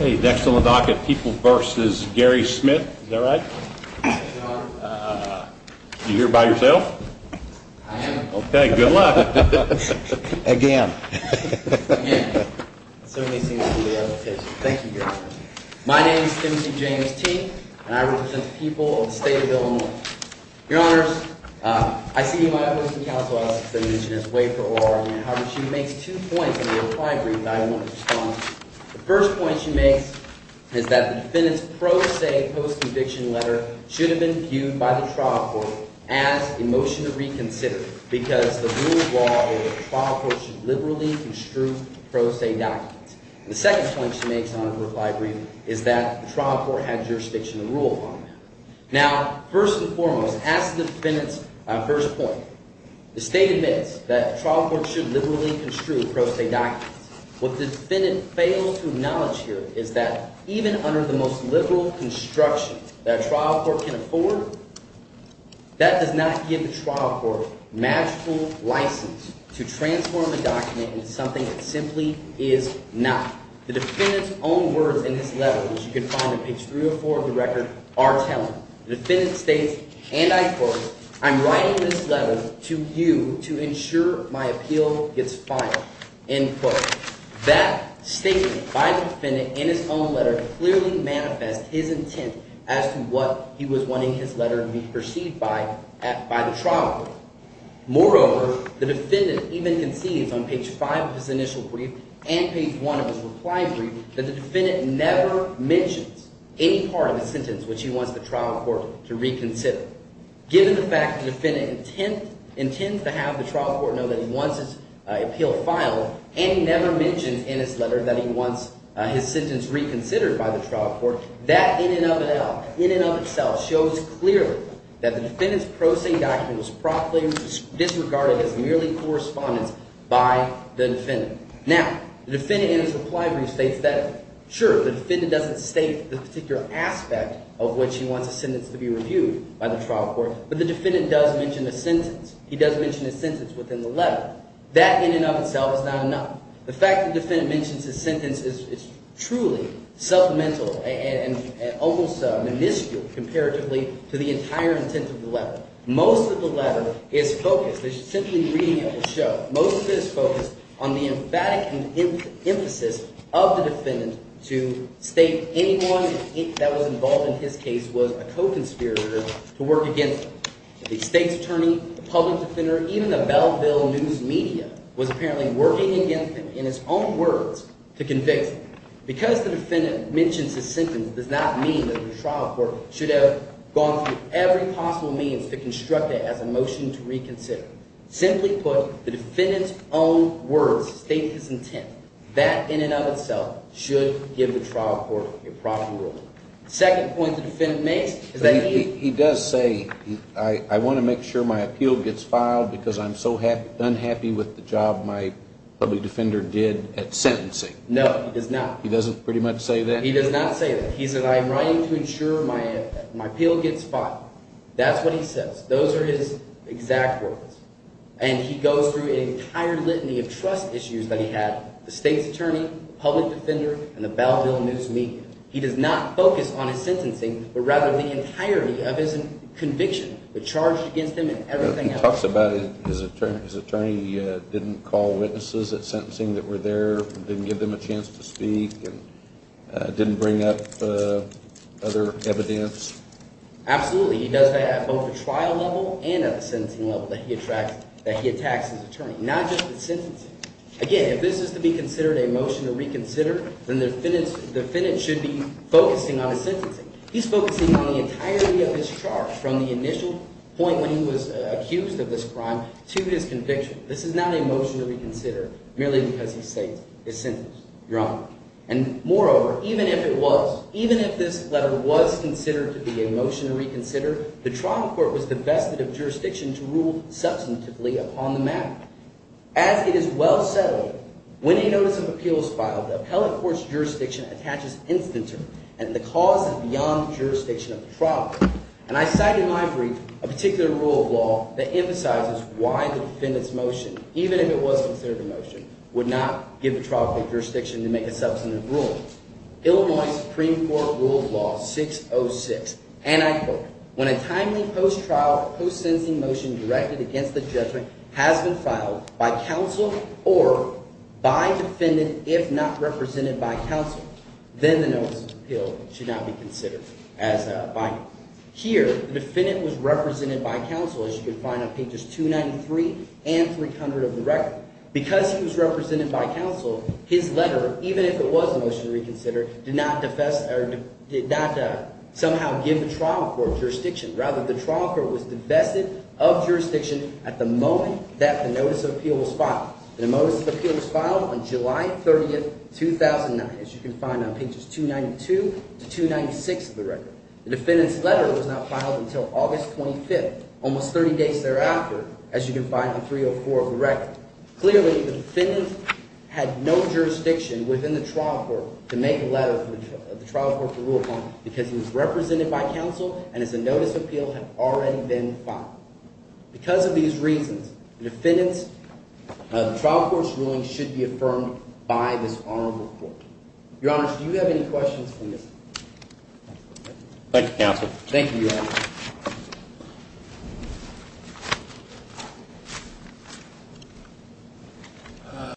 Next on the docket, People v. Gary Smith. Is that right? Yes, Your Honor. Are you here by yourself? I am. Okay, good luck. Again. Again. Thank you, Gary. My name is Timothy James T., and I represent the people of the state of Illinois. Your Honors, I see you in my office in the House of Auditors, as I mentioned, as a way for oral argument. However, she makes two points in the applied brief that I want to respond to. The first point she makes is that the defendant's pro se post-conviction letter should have been viewed by the trial court as a motion to reconsider because the rule of law is that the trial court should liberally construe pro se documents. And the second point she makes on her applied brief is that the trial court had jurisdiction to rule on that. Now, first and foremost, as the defendant's first point, the state admits that the trial court should liberally construe pro se documents. What the defendant failed to acknowledge here is that even under the most liberal construction that a trial court can afford, that does not give the trial court magical license to transform a document into something it simply is not. The defendant's own words in this letter, as you can find in page 304 of the record, are telling. The defendant states, and I quote, I'm writing this letter to you to ensure my appeal gets filed. End quote. That statement by the defendant in his own letter clearly manifests his intent as to what he was wanting his letter to be perceived by the trial court. Moreover, the defendant even concedes on page 5 of his initial brief and page 1 of his applied brief that the defendant never mentions any part of the sentence which he wants the trial court to reconsider. Given the fact the defendant intends to have the trial court know that he wants his appeal filed and he never mentions in his letter that he wants his sentence reconsidered by the trial court, that in and of itself shows clearly that the defendant's pro se document was properly disregarded as merely correspondence by the defendant. Now, the defendant in his applied brief states that. Sure, the defendant doesn't state the particular aspect of which he wants his sentence to be reviewed by the trial court, but the defendant does mention the sentence. He does mention his sentence within the letter. That in and of itself is not enough. The fact the defendant mentions his sentence is truly supplemental and almost minuscule comparatively to the entire intent of the letter. Most of the letter is focused – simply reading it will show – most of it is focused on the emphatic emphasis of the defendant to state anyone that was involved in his case was a co-conspirator to work against him. The state's attorney, the public defender, even the Belleville news media was apparently working against him in his own words to convince him. Because the defendant mentions his sentence does not mean that the trial court should have gone through every possible means to construct it as a motion to reconsider. Simply put, the defendant's own words state his intent. That in and of itself should give the trial court a proper ruling. The second point the defendant makes is that he – He does say, I want to make sure my appeal gets filed because I'm so unhappy with the job my public defender did at sentencing. No, he does not. He doesn't pretty much say that? He does not say that. He says I'm writing to ensure my appeal gets filed. That's what he says. Those are his exact words. And he goes through an entire litany of trust issues that he had, the state's attorney, public defender, and the Belleville news media. He does not focus on his sentencing but rather the entirety of his conviction, the charge against him and everything else. He talks about his attorney didn't call witnesses at sentencing that were there, didn't give them a chance to speak, and didn't bring up other evidence. Absolutely. He does that at both the trial level and at the sentencing level that he attacks his attorney, not just at sentencing. Again, if this is to be considered a motion to reconsider, then the defendant should be focusing on his sentencing. He's focusing on the entirety of his charge from the initial point when he was accused of this crime to his conviction. This is not a motion to reconsider merely because he states his sentence, Your Honor. And moreover, even if it was, even if this letter was considered to be a motion to reconsider, the trial court was divested of jurisdiction to rule substantively upon the matter. As it is well settled, when a notice of appeal is filed, the appellate court's jurisdiction attaches instant term, and the cause is beyond the jurisdiction of the trial court. And I cite in my brief a particular rule of law that emphasizes why the defendant's motion, even if it was considered a motion, would not give the trial court jurisdiction to make a substantive ruling. Illinois Supreme Court Rule of Law 606, and I quote, when a timely post-trial, post-sentencing motion directed against the judgment has been filed by counsel or by defendant if not represented by counsel, then the notice of appeal should not be considered as binding. Here, the defendant was represented by counsel, as you can find on pages 293 and 300 of the record. Because he was represented by counsel, his letter, even if it was a motion to reconsider, did not somehow give the trial court jurisdiction. Rather, the trial court was divested of jurisdiction at the moment that the notice of appeal was filed. And the notice of appeal was filed on July 30, 2009, as you can find on pages 292 to 296 of the record. The defendant's letter was not filed until August 25, almost 30 days thereafter, as you can find on 304 of the record. Clearly, the defendant had no jurisdiction within the trial court to make a letter to the trial court for rule of law because he was represented by counsel and his notice of appeal had already been filed. Because of these reasons, the defendant's trial court's ruling should be affirmed by this honorable court. Your Honor, do you have any questions, please? Thank you, counsel. Thank you, Your Honor.